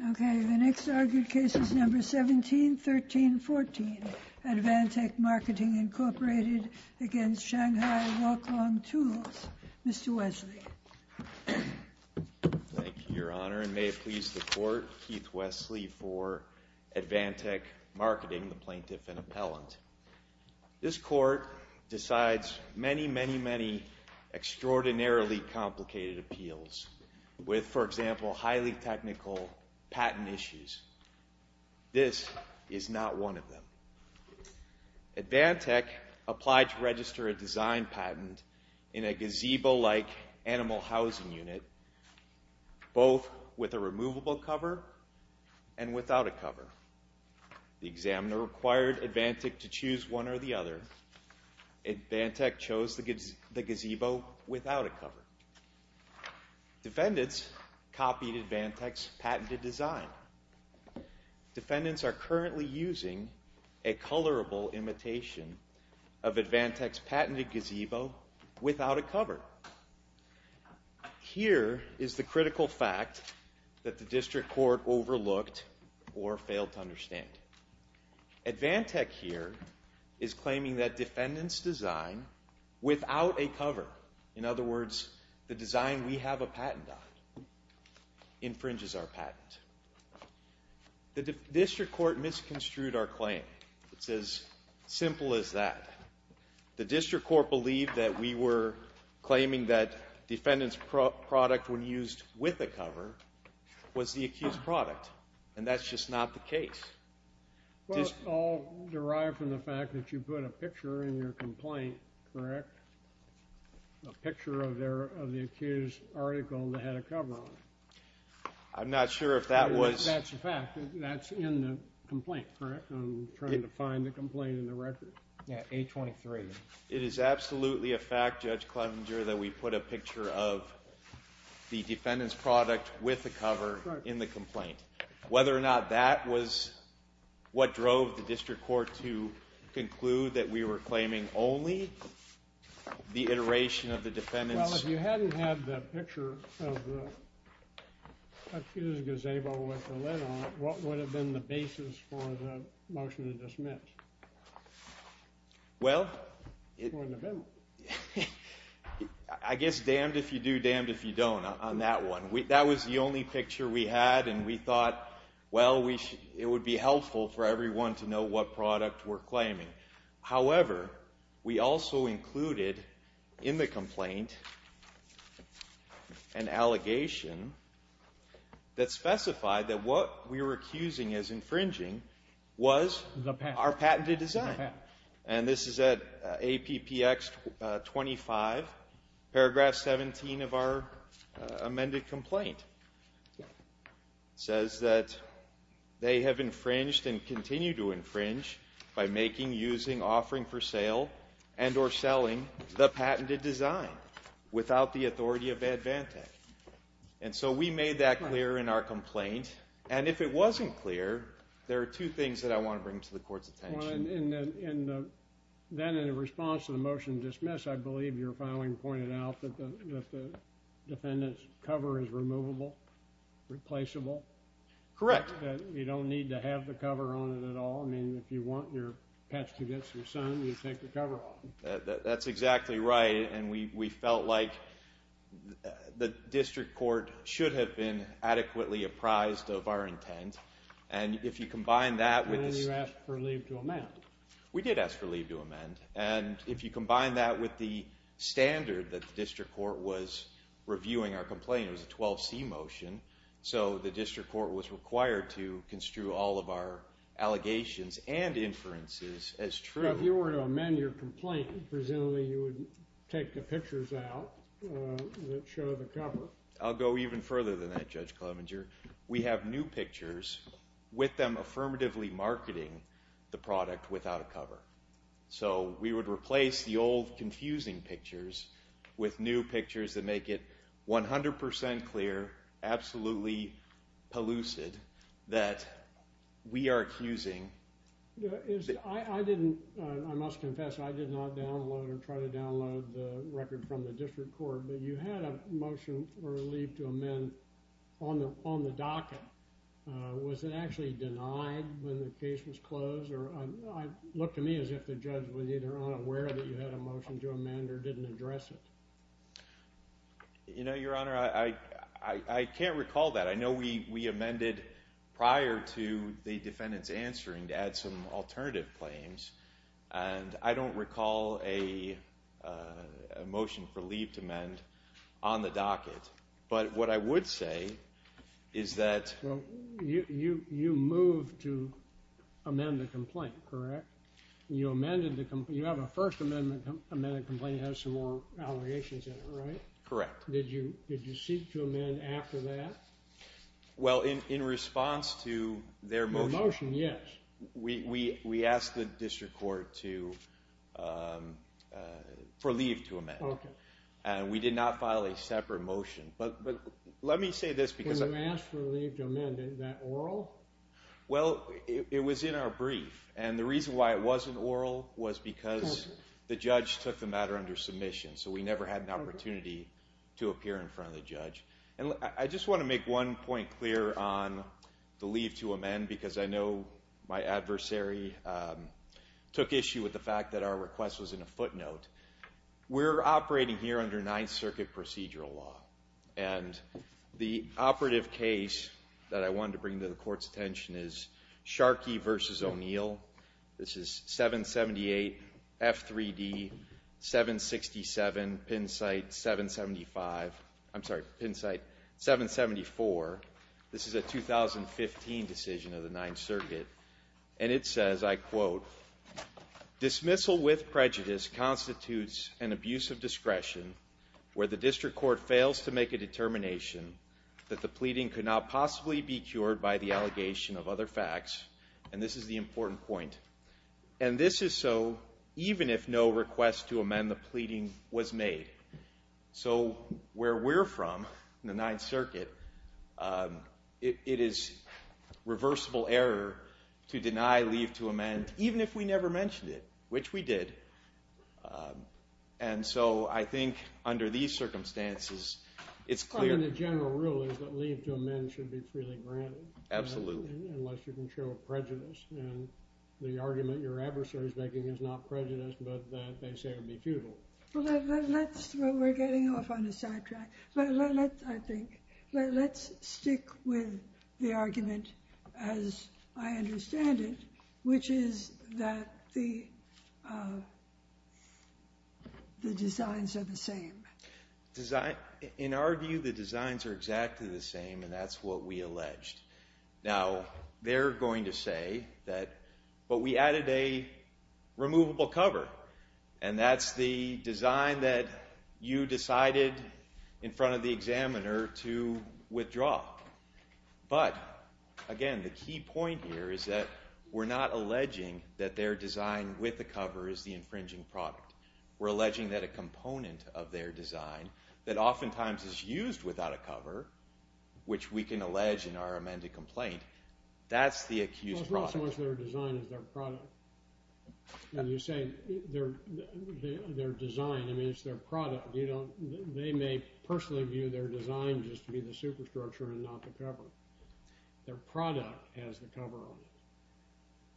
1713.14, Advantek Marketing, Inc. v. Shanghai Walk-Long Tools. Mr. Wesley. Thank you, Your Honor, and may it please the Court, Keith Wesley for Advantek Marketing, the plaintiff and appellant. This Court decides many, many, many extraordinarily complicated appeals with, for example, highly technical patent issues. This is not one of them. Advantek applied to register a design patent in a gazebo-like animal housing unit, both with a removable cover and without a cover. The examiner required Advantek to choose one or the other. Advantek chose the gazebo without a cover. Defendants copied Advantek's patented design. Defendants are currently using a colorable imitation of Advantek's patented gazebo without a cover. However, here is the critical fact that the District Court overlooked or failed to understand. Advantek here is claiming that defendants' design without a cover, in other words, the design we have a patent on, infringes our patent. The District Court misconstrued our that defendant's product when used with a cover was the accused's product, and that's just not the case. Well, it's all derived from the fact that you put a picture in your complaint, correct? A picture of the accused's article that had a cover on it. I'm not sure if that was... That's a fact. That's in the complaint, correct? I'm trying to find the complaint in the record. Yeah, A23. It is absolutely a fact, Judge Clevenger, that we put a picture of the defendant's product with the cover in the complaint. Whether or not that was what drove the district court to conclude that we were claiming only the iteration of the defendant's... Well, if you hadn't had the picture of the accused's gazebo with the lid on it, what would have been the basis for the motion to dismiss? Well, I guess damned if you do, damned if you don't on that one. That was the only picture we had, and we thought, well, it would be helpful for everyone to know what product we're claiming. However, we also included in the complaint an allegation that specified that what we were accusing as infringing was our patented design. And this is at APPX 25, paragraph 17 of our amended complaint. It says that they have infringed and continue to infringe by making, using, offering for sale, and or selling the patented design without the authority of Advantech. And so we made that clear in our complaint. And if it wasn't clear, there are two things that I want to bring to the court's attention. And then in response to the motion to dismiss, I believe your filing pointed out that the defendant's cover is removable, replaceable. Correct. That you don't need to have the cover on it at all. I mean, if you want your patch to get some sun, you take the cover off. That's exactly right. And we felt like the district court should have been adequately apprised of our intent. And if you combine that with this... And then you asked for leave to amend. We did ask for leave to amend. And if you combine that with the standard that the district court was reviewing our complaint, it was a 12C motion, so the district court was required to construe all of our allegations and inferences as true. If you were to amend your complaint, presumably you would take the pictures out that show the cover. I'll go even further than that, Judge Clemenger. We have new pictures with them affirmatively marketing the product without a cover. So we would replace the old confusing pictures with new pictures that make it 100% clear, absolutely pellucid, that we are accusing... I must confess, I did not download or try to download the record from the district court, but you had a motion for leave to amend on the docket. Was it actually denied when the case was closed? It looked to me as if the judge was either unaware that you had a motion to amend or didn't address it. You know, Your Honor, I can't recall that. I know we amended prior to the defendant's alternative claims, and I don't recall a motion for leave to amend on the docket. But what I would say is that... You moved to amend the complaint, correct? You amended the complaint. You have a First Amendment amended complaint that has some more allegations in it, right? Correct. Did you seek to amend after that? Well, in response to their motion... We asked the district court for leave to amend, and we did not file a separate motion. But let me say this... When you asked for leave to amend, is that oral? Well, it was in our brief, and the reason why it wasn't oral was because the judge took the matter under submission, so we never had an opportunity to appear in front of the judge. I just want to make one point clear on the leave to amend, because I know my adversary took issue with the fact that our request was in a footnote. We're operating here under Ninth Circuit procedural law, and the operative case that I wanted to bring to the court's attention is Sharkey v. O'Neill. This is 778 F3D 767 Pinsight 775. I'm sorry, Pinsight 774. This is a 2015 decision of the Ninth Circuit, and it says, I quote, Dismissal with prejudice constitutes an abuse of discretion where the district court fails to make a determination that the pleading could not possibly be cured by the allegation of other facts. And this is the important point. And this is so even if no request to the Ninth Circuit, it is reversible error to deny leave to amend, even if we never mentioned it, which we did. And so I think under these circumstances, it's clear. I mean, the general rule is that leave to amend should be freely granted. Absolutely. Unless you can show prejudice, and the argument your adversary is making is not prejudice, but that they say it would be futile. Well, we're getting off on a sidetrack. Let's stick with the argument as I understand it, which is that the designs are the same. In our view, the designs are exactly the same, and that's what we alleged. Now, they're going to say that, but we added a removable cover, and that's the design that you decided in front of the examiner to withdraw. But again, the key point here is that we're not alleging that their design with the cover is the infringing product. We're alleging that a component of their design that oftentimes is used without a cover, which we can allege in our amended complaint, that's the accused product. Well, it's not so much their design as their product. When you say their design, I mean, it's their product. They may personally view their design just to be the superstructure and not the cover. Their product has the cover on it.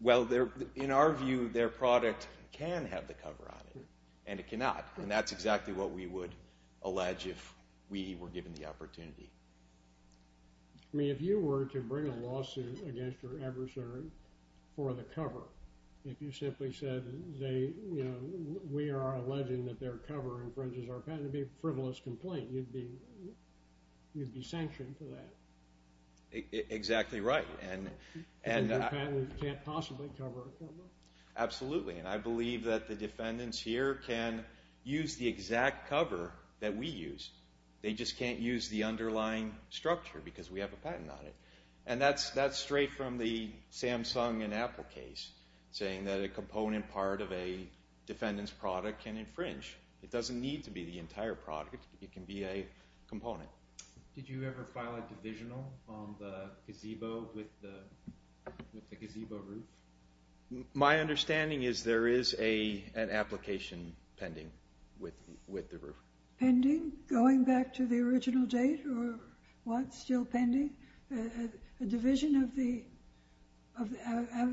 Well, in our view, their product can have the cover on it, and it cannot. And that's exactly what we would allege if we were given the opportunity. I mean, if you were to bring a lawsuit against your adversary for the cover, if you simply said, you know, we are alleging that their cover infringes our patent, it would be a frivolous complaint. You'd be sanctioned for that. Exactly right. And the patenters can't possibly cover a cover. Absolutely. And I believe that the defendants here can use the exact cover that we used. They just can't use the underlying structure because we have a patent on it. And that's straight from the Samsung and Apple case, saying that a component part of a defendant's product can infringe. It doesn't need to be the entire product. It can be a component. Did you ever file a divisional on the gazebo with the gazebo roof? My understanding is there is an application pending with the roof. Pending? Going back to the original date or what's still pending? A division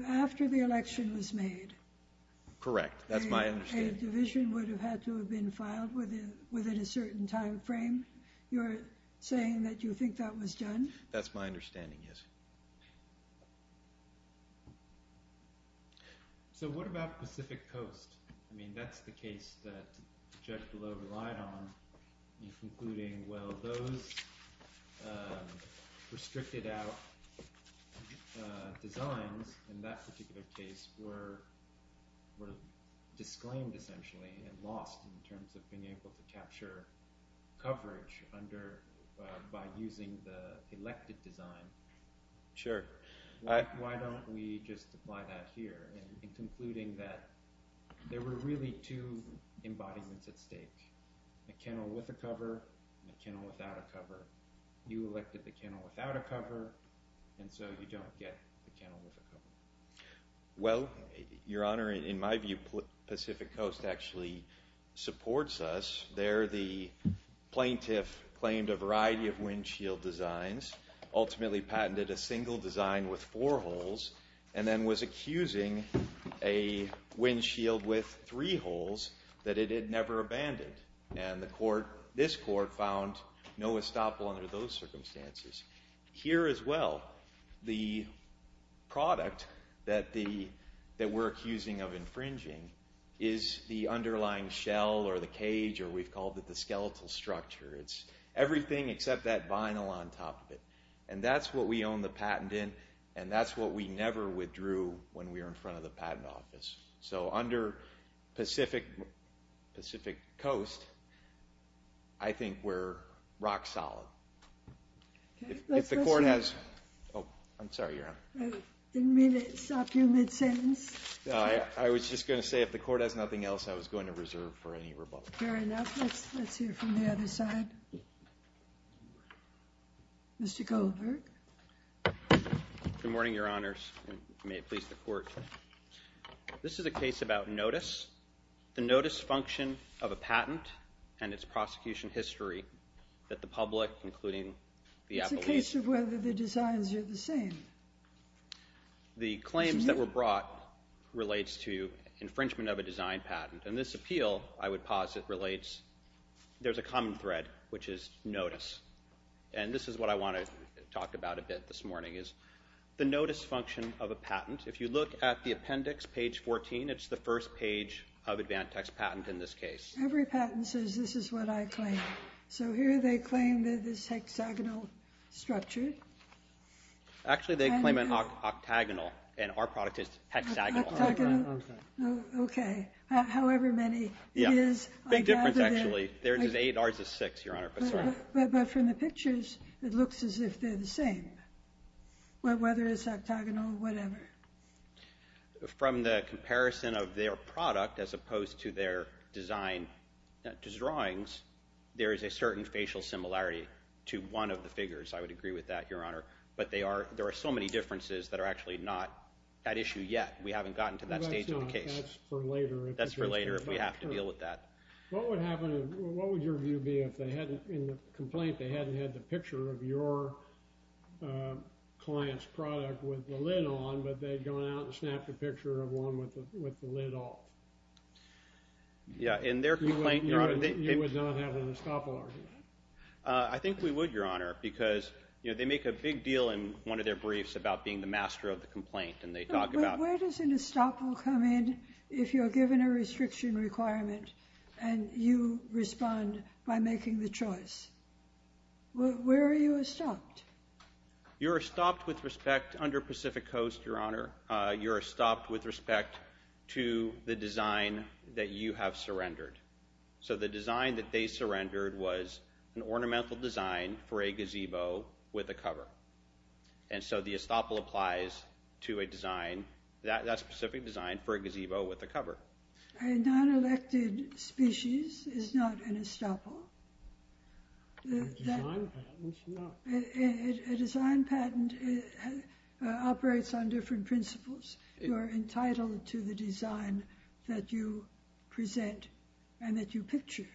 after the election was made? Correct. That's my understanding. A division would have had to have been filed within a certain time frame? You're saying that you think that was done? That's my understanding, yes. So what about Pacific Coast? I mean, that's the case that the judge below relied on, including, well, those restricted out designs in that particular case were disclaimed, essentially, and lost in terms of being able to capture coverage by using the elected design. Sure. Why don't we just apply that here in concluding that there were really two embodiments at stake, a kennel with a cover and a kennel without a cover. You elected the kennel without a cover, and so you don't get the kennel with a cover. Well, Your Honor, in my view, Pacific Coast actually supports us. There the plaintiff claimed a variety of windshield designs, ultimately patented a single design with four holes, and then was accusing a windshield with three holes that it had never abandoned. And the court, this court, found no estoppel under those circumstances. Here as well, the product that we're accusing of infringing is the underlying shell or the cage, or we've called it the skeletal structure. It's everything except that vinyl on top of it. And that's what we own the patent in, and that's what we never withdrew when we were in front of the patent office. So under Pacific Coast, I think we're rock solid. If the court has... Oh, I'm sorry, Your Honor. I didn't mean to stop you mid-sentence. I was just going to say if the court has nothing else, I was going to reserve for any rebuttal. Fair enough. Let's hear from the other side. Mr. Kohlberg. Good morning, Your Honors, and may it please the Court. This is a case about notice, the notice function of a patent and its prosecution history that the public, including the appellees... It's a case of whether the designs are the same. The claims that were brought relates to infringement of a design patent. And this appeal, I would posit, relates... There's a common thread, which is notice. And this is what I want to talk about a bit this morning, is the notice function of a patent. If you look at the appendix, page 14, it's the first page of Advantax patent in this case. Every patent says this is what I claim. So here they claim that it's hexagonal structured. Actually, they claim it's octagonal. And our product is hexagonal. Okay. However many it is... Big difference, actually. There's eight, ours is six, Your Honor. But from the pictures, it looks as if they're the same. Whether it's octagonal, whatever. From the comparison of their product, as opposed to their design drawings, there is a certain facial similarity to one of the figures. I would agree with that, Your Honor. But there are so many differences that are actually not that issue yet. We haven't gotten to that stage of the case. That's for later, if we have to deal with that. What would your view be if, in the complaint, they hadn't had the picture of your client's product with the lid on, but they'd gone out and snapped a picture of one with the lid off? Yeah. In their complaint, Your Honor... You would not have an estoppel argument? I think we would, Your Honor, because they make a big deal in one of their briefs about being the master of the complaint. But where does an estoppel come in if you're given a restriction requirement and you respond by making the choice? Where are you estopped? You're estopped with respect... Under Pacific Coast, Your Honor, you're estopped with respect to the design that you have surrendered. So the design that they surrendered was an ornamental design for a gazebo with a cover. And so the estoppel applies to a design, that specific design, for a gazebo with a cover. A non-elected species is not an estoppel? A design patent is not. A design patent operates on different principles. You're entitled to the design that you present and that you picture.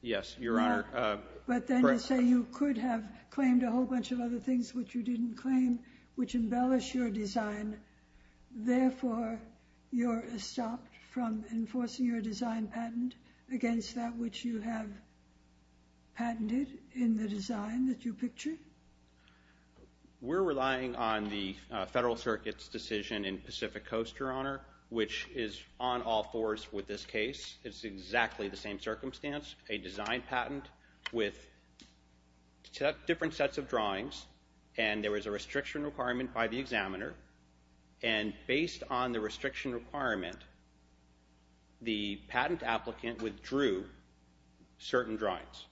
Yes, Your Honor. But then to say you could have claimed a whole bunch of other things which you didn't claim, which embellish your design, therefore you're estopped from enforcing your design patent against that which you have patented in the design that you pictured? We're relying on the Federal Circuit's decision in Pacific Coast, Your Honor, which is on all fours with this case. It's exactly the same circumstance. A design patent with different sets of drawings and there was a restriction requirement by the examiner and based on the restriction requirement, the patent applicant withdrew certain drawings.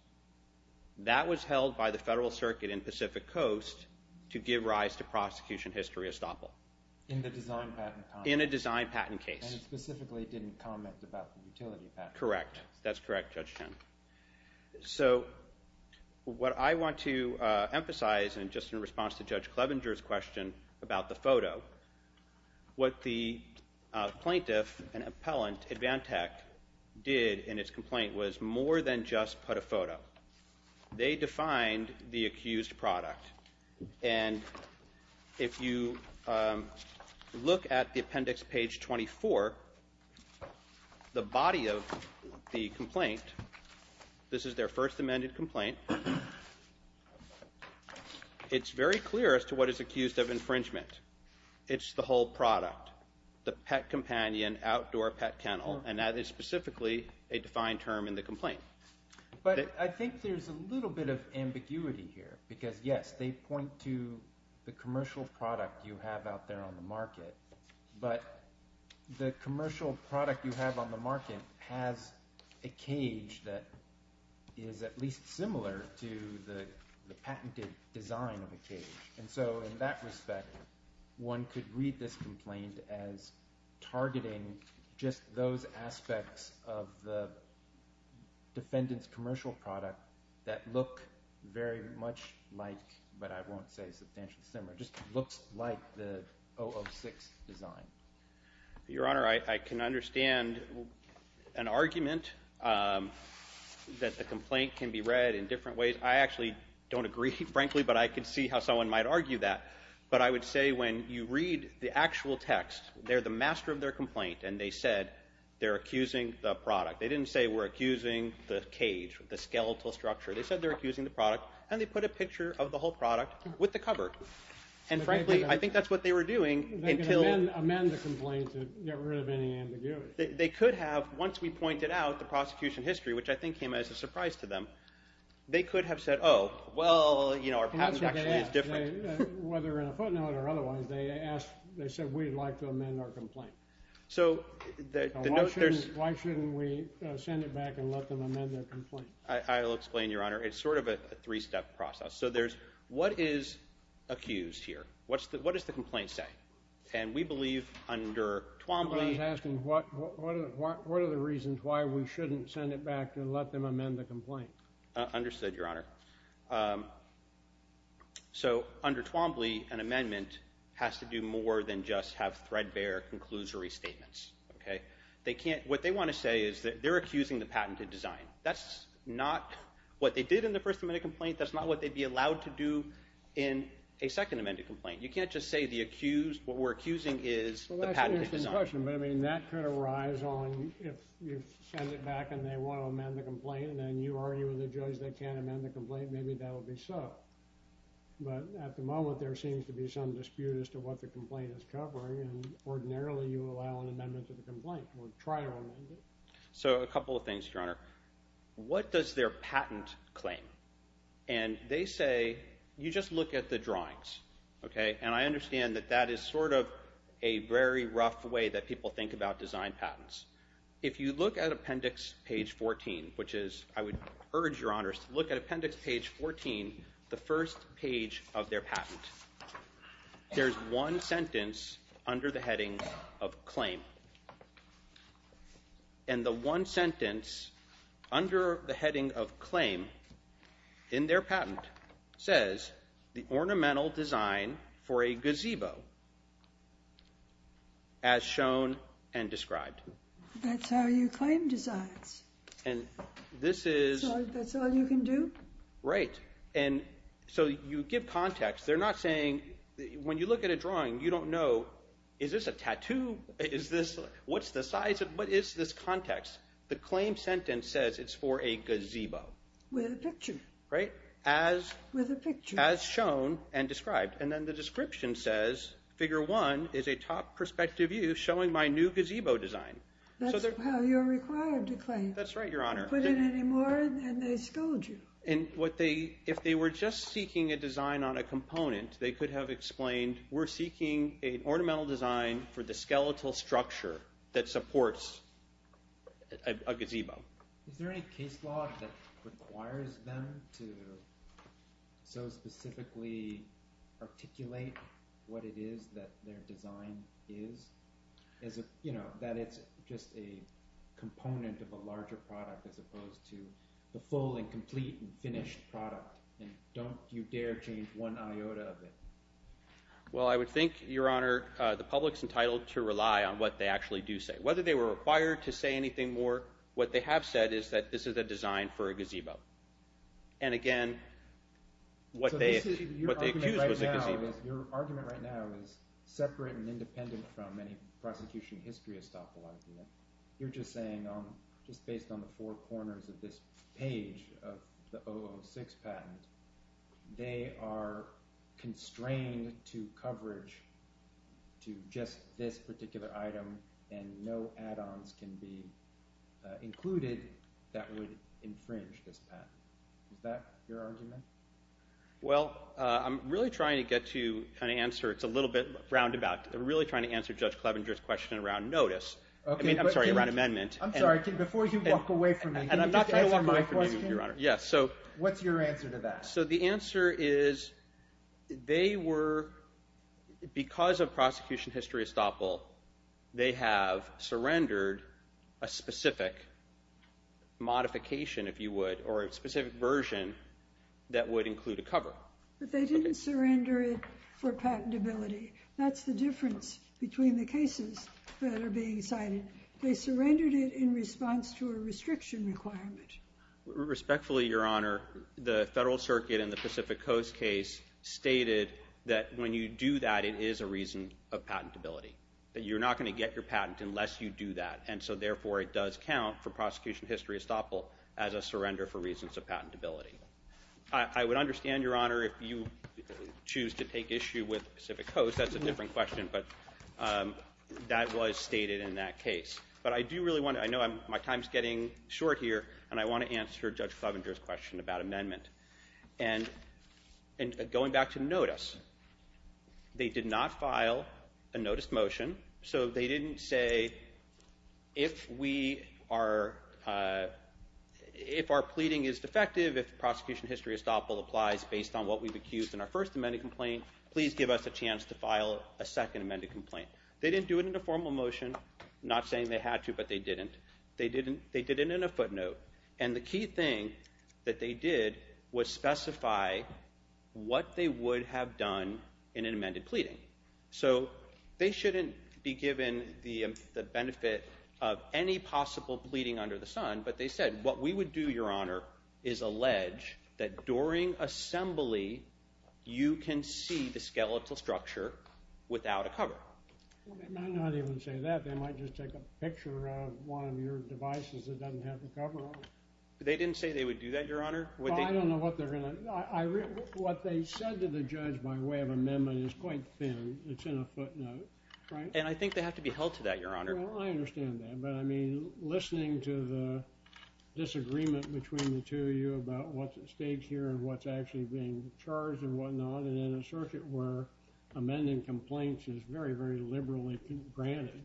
That was held by the Federal Circuit in Pacific Coast to give rise to prosecution history estoppel. In the design patent? In a design patent case. And it specifically didn't comment about the utility patent? Correct. That's correct, Judge Chen. So what I want to emphasize and just in response to Judge Clevenger's question about the photo, what the plaintiff and appellant, Advantech, did in its complaint was more than just put a photo. They defined the accused product and if you look at the appendix, page 24, the body of the complaint, this is their first amended complaint, it's very clear as to what is accused of infringement. It's the whole product. The pet companion, outdoor pet kennel and that is specifically a defined term in the complaint. But I think there's a little bit of ambiguity here because yes, they point to the commercial product you have out there on the market but the commercial product you have on the market has a cage that is at least similar to the patented design of a cage and so in that respect one could read this complaint as targeting just those aspects of the defendant's commercial product that look very much like but I won't say substantially similar, just looks like the 006 design. Your Honor, I can understand an argument that the complaint can be frankly, but I can see how someone might argue that but I would say when you read the actual text they're the master of their complaint and they said they're accusing the product. They didn't say we're accusing the cage, the skeletal structure. They said they're accusing the product and they put a picture of the whole product with the cover. And frankly, I think that's what they were doing until They could amend the complaint to get rid of any ambiguity. They could have, once we pointed out the prosecution history which I think came as a surprise to them, they could have said oh, well, you know, our patent actually is different. Whether in a footnote or otherwise, they said we'd like to amend our complaint. Why shouldn't we send it back and let them amend their complaint? I'll explain, Your Honor. It's sort of a three-step process. So there's, what is accused here? What does the complaint say? And we believe under Twombly What are the reasons why we shouldn't send it back and let them amend the complaint? Understood, Your Honor. So under Twombly, an amendment has to do more than just have threadbare conclusory statements. What they want to say is that they're accusing the patented design. That's not what they did in the first amended complaint. That's not what they'd be allowed to do in a second amended complaint. You can't just say what we're accusing is the patented design. That's an interesting question, but that could arise on if you send it back and they want to amend the complaint and you argue with the judge they can't amend the complaint, maybe that'll be so. But at the moment, there seems to be some dispute as to what the complaint is covering and ordinarily you allow an amendment to the complaint or try to amend it. So a couple of things, Your Honor. What does their patent claim? And they say you just look at the drawings. And I understand that that is sort of a very rough way that people think about design patents. If you look at appendix page 14, which is, I would urge Your Honors to look at appendix page 14, the first page of their patent. There's one sentence under the heading of claim. And the one sentence under the heading of claim in their patent says the ornamental design for a gazebo as shown and described. That's how you claim designs? And this is... So that's all you can do? Right. And so you give context. They're not saying, when you look at a drawing you don't know, is this a tattoo? What's the size? What is this context? The claim sentence says it's for a gazebo. With a picture. Right. As shown and described. And then the description says figure one is a top perspective view showing my new gazebo design. That's how you're required to claim. That's right, Your Honor. Put in any more and they scold you. If they were just seeking a design on a component, they could have explained we're seeking an ornamental design for the skeletal structure that supports a gazebo. Is there any case law that requires them to so specifically articulate what it is that their design is? That it's just a component of a larger product as opposed to the full and complete and finished product. And don't you dare change one iota of it? Well, I would think, Your Honor, the public's entitled to rely on what they actually do say. Whether they were required to say anything more, what they have said is that this is a design for a gazebo. And again what they accused was a gazebo. Your argument right now is separate and independent from any prosecution history estoppel idea. You're just saying, just based on the four corners of this page of the 006 patent they are constrained to coverage to just this particular item and no add-ons can be included that would infringe this patent. Is that your argument? Well, I'm really trying to get to kind of answer, it's a little bit roundabout, I'm really trying to answer Judge Clevenger's question around notice. I mean, I'm sorry, around amendment. I'm sorry, before you walk away from me What's your answer to that? So the answer is they were, because of prosecution history estoppel, they have surrendered a specific modification if you would, or a specific version that would include a cover. But they didn't surrender it for patentability. That's the difference between the cases that are being cited. They surrendered it in response to a restriction requirement. Respectfully, Your Honor the Federal Circuit in the Pacific Coast case stated that when you do that it is a reason of patentability. That you're not going to get your patent unless you do that. And so therefore it does count for prosecution history estoppel as a surrender for reasons of patentability. I would understand, Your Honor, if you choose to take issue with Pacific Coast, that's a different question but that was stated in that case. But I do really want to, I know my time's getting short here and I want to answer Judge Clevenger's question about amendment. And going back to notice they did not file a notice motion, so they didn't say if we are if our pleading is defective, if prosecution history estoppel applies based on what we've accused in our first amendment complaint, please give us a chance to file a second amendment complaint. They didn't do it in a formal motion, not saying they had to, but they didn't. They did it in a footnote. And the key thing that they did was specify what they would have done in an amended pleading. So they shouldn't be given the benefit of any possible pleading under the sun, but they said what we would do, Your Honor, is allege that during assembly you can see the skeletal structure without a cover. They might not even say that, they might just take a picture of one of your devices that doesn't have the cover on it. They didn't say they would do that, Your Honor? I don't know what they're going to, what they said to the judge by way of amendment is quite thin, it's in a footnote. And I think they have to be held to that, Your Honor. I understand that, but I mean, listening to the state here and what's actually being charged and whatnot and in a circuit where amending complaints is very, very liberally granted,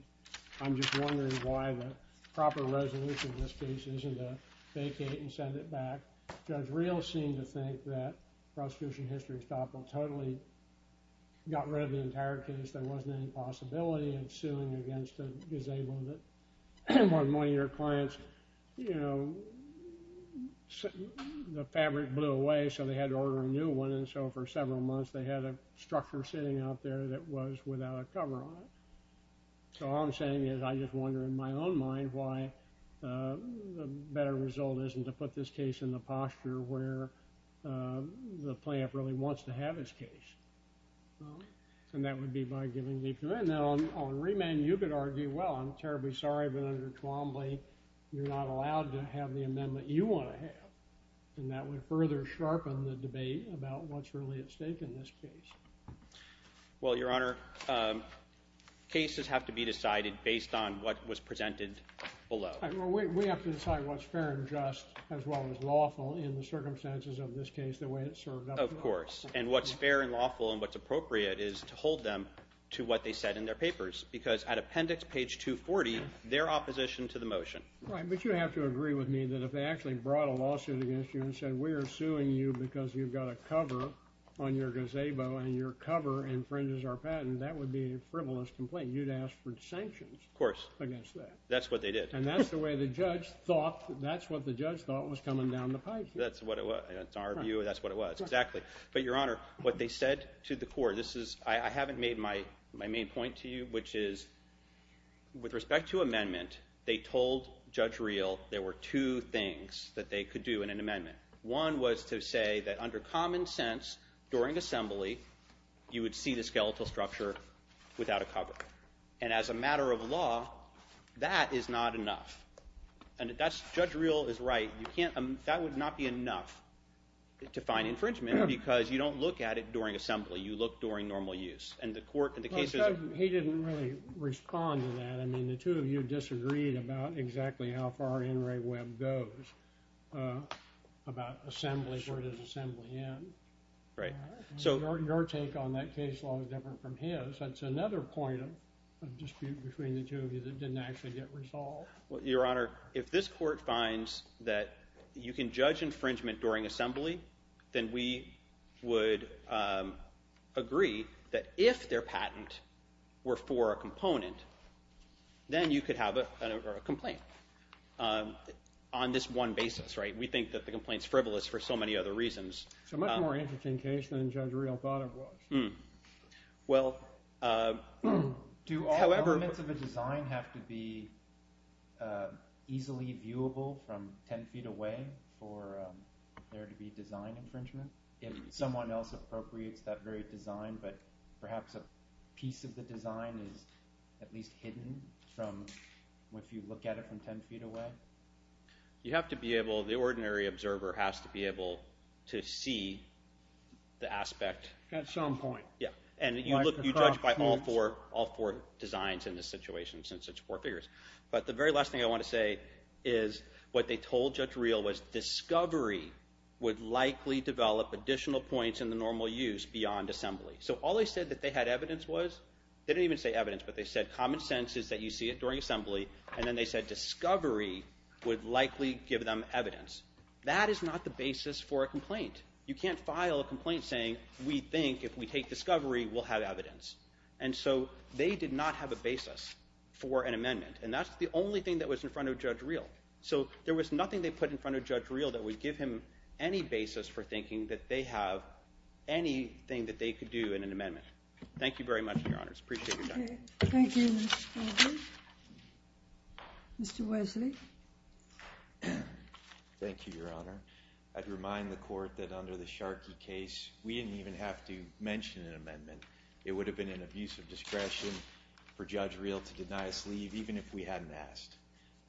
I'm just wondering why the proper resolution in this case isn't to vacate and send it back. Judge Rios seemed to think that prosecution history stopped and totally got rid of the entire case. There wasn't any possibility of suing against a disabled or one of your clients. You know, the fabric blew away so they had to order a new one and so for several months they had a structure sitting out there that was without a cover on it. So all I'm saying is, I just wonder in my own mind why the better result isn't to put this case in the posture where the plaintiff really wants to have his case. And that would be by giving deep commitment. Now on remand you could argue, well I'm terribly sorry but under Twombly you're not allowed to have the amendment you want to have. And that would further sharpen the debate about what's really at stake in this case. Well, Your Honor, cases have to be decided based on what was presented below. We have to decide what's fair and just as well as lawful in the circumstances of this case the way it's served up. Of course. And what's fair and lawful and what's appropriate is to hold them to what they said in their papers. Because at appendix page 240 their opposition to the motion. Right, but you have to agree with me that if they actually brought a lawsuit against you and said we're suing you because you've got a cover on your gazebo and your cover infringes our patent, that would be a frivolous complaint. You'd ask for sanctions. Of course. Against that. That's what they did. And that's the way the judge thought that's what the judge thought was coming down the pipe here. That's what it was. That's our view. That's what it was. Exactly. But Your Honor, what they said to the court, this is I haven't made my main point to you, which is with respect to amendment, they told Judge Reel there were two things that they could do in an amendment. One was to say that under common sense during assembly, you would see the skeletal structure without a cover. And as a matter of law that is not enough. And Judge Reel is right. That would not be enough to find infringement because you don't look at it during assembly. You look during normal use. He didn't really respond to that. The two of you disagreed about exactly how far NRA Web goes about assembly. Where does assembly end? Your take on that case law is different from his. That's another point of dispute between the two of you that didn't actually get resolved. If this court finds that you can judge infringement during assembly, then we would agree that if their patent were for a component then you could have a complaint on this one basis. We think that the complaint is frivolous for so many other reasons. It's a much more interesting case than Judge Reel thought it was. Do all elements of a design have to be easily viewable from 10 feet away for there to be design infringement? If someone else appropriates that very design but perhaps a piece of the design is at least hidden if you look at it from 10 feet away? The ordinary observer has to be able to see the aspect. You judge by all four designs in this situation since it's four figures. The very last thing I want to say is what they told Judge Reel was discovery would likely develop additional points in the normal use beyond assembly. All they said that they had evidence was common sense is that you see it during assembly and discovery would likely give them evidence. That is not the basis for a complaint. You can't file a complaint saying we think if we take discovery we'll have evidence. So they did not have a basis for an amendment and that's the only thing that was in front of Judge Reel. So there was nothing they put in front of Judge Reel that would give him any basis for thinking that they have anything that they could do in an amendment. Thank you very much, Your Honors. Thank you, Mr. Spaulding. Mr. Wesley. Thank you, Your Honor. I'd remind the court that under the Sharkey case we didn't even have to mention an amendment. It would have been an abuse of discretion for Judge Reel to deny us leave even if we hadn't asked.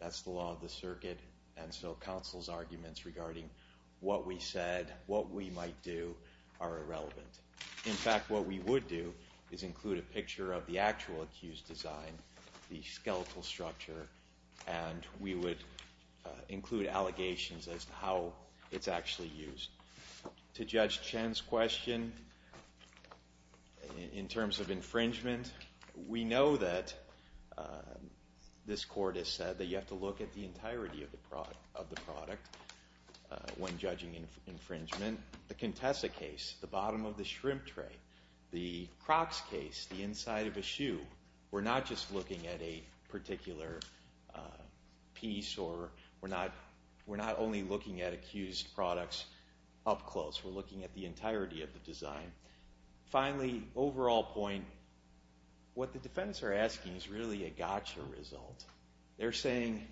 That's the law of the circuit and so counsel's arguments regarding what we said, what we might do are irrelevant. In fact, what we would do is include a picture of the actual accused design, the skeletal structure, and we would include allegations as to how it's actually used. To Judge Chen's question in terms of infringement we know that this court has said that you have to look at the entirety of the product when judging infringement. The Contessa case, the bottom of the inside of a shoe. We're not just looking at a particular piece or we're not only looking at accused products up close. We're looking at the entirety of the design. Finally, overall point what the defendants are asking is really a gotcha result. They're saying,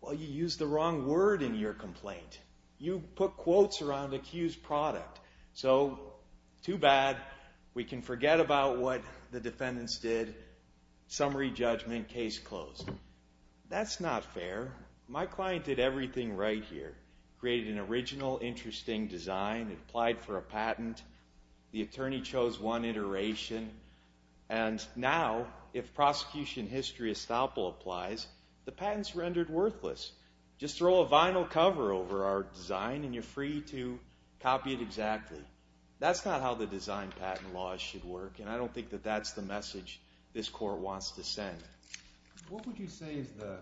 well you used the wrong word in your complaint. You put quotes around accused product. So too bad. We can forget about what the defendants did. Summary judgment. Case closed. That's not fair. My client did everything right here. Created an original interesting design. Applied for a patent. The attorney chose one iteration and now if prosecution history estoppel applies, the patent's rendered worthless. Just throw a vinyl cover over our design and you're free to copy it exactly. That's not how the design patent laws should work and I don't think that's the message this court wants to send. What would you say is the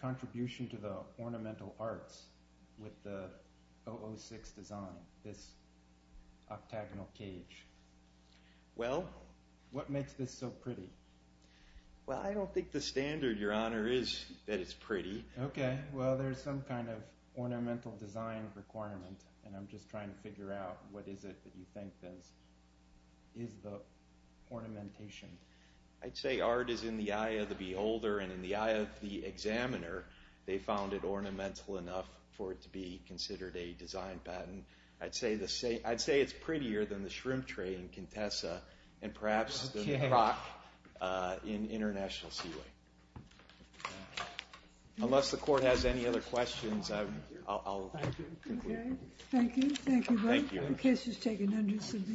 contribution to the ornamental arts with the 006 design, this octagonal cage? What makes this so pretty? I don't think the standard, your honor, is that it's pretty. Okay, well there's some kind of ornamental design requirement and I'm just trying to figure out what is it that you think is the ornamentation. I'd say art is in the eye of the beholder and in the eye of the examiner they found it ornamental enough for it to be considered a design patent. I'd say it's prettier than the shrimp tray in Contessa and perhaps than the croc in International Seaway. Unless the court has any other questions, I'll conclude. Thank you.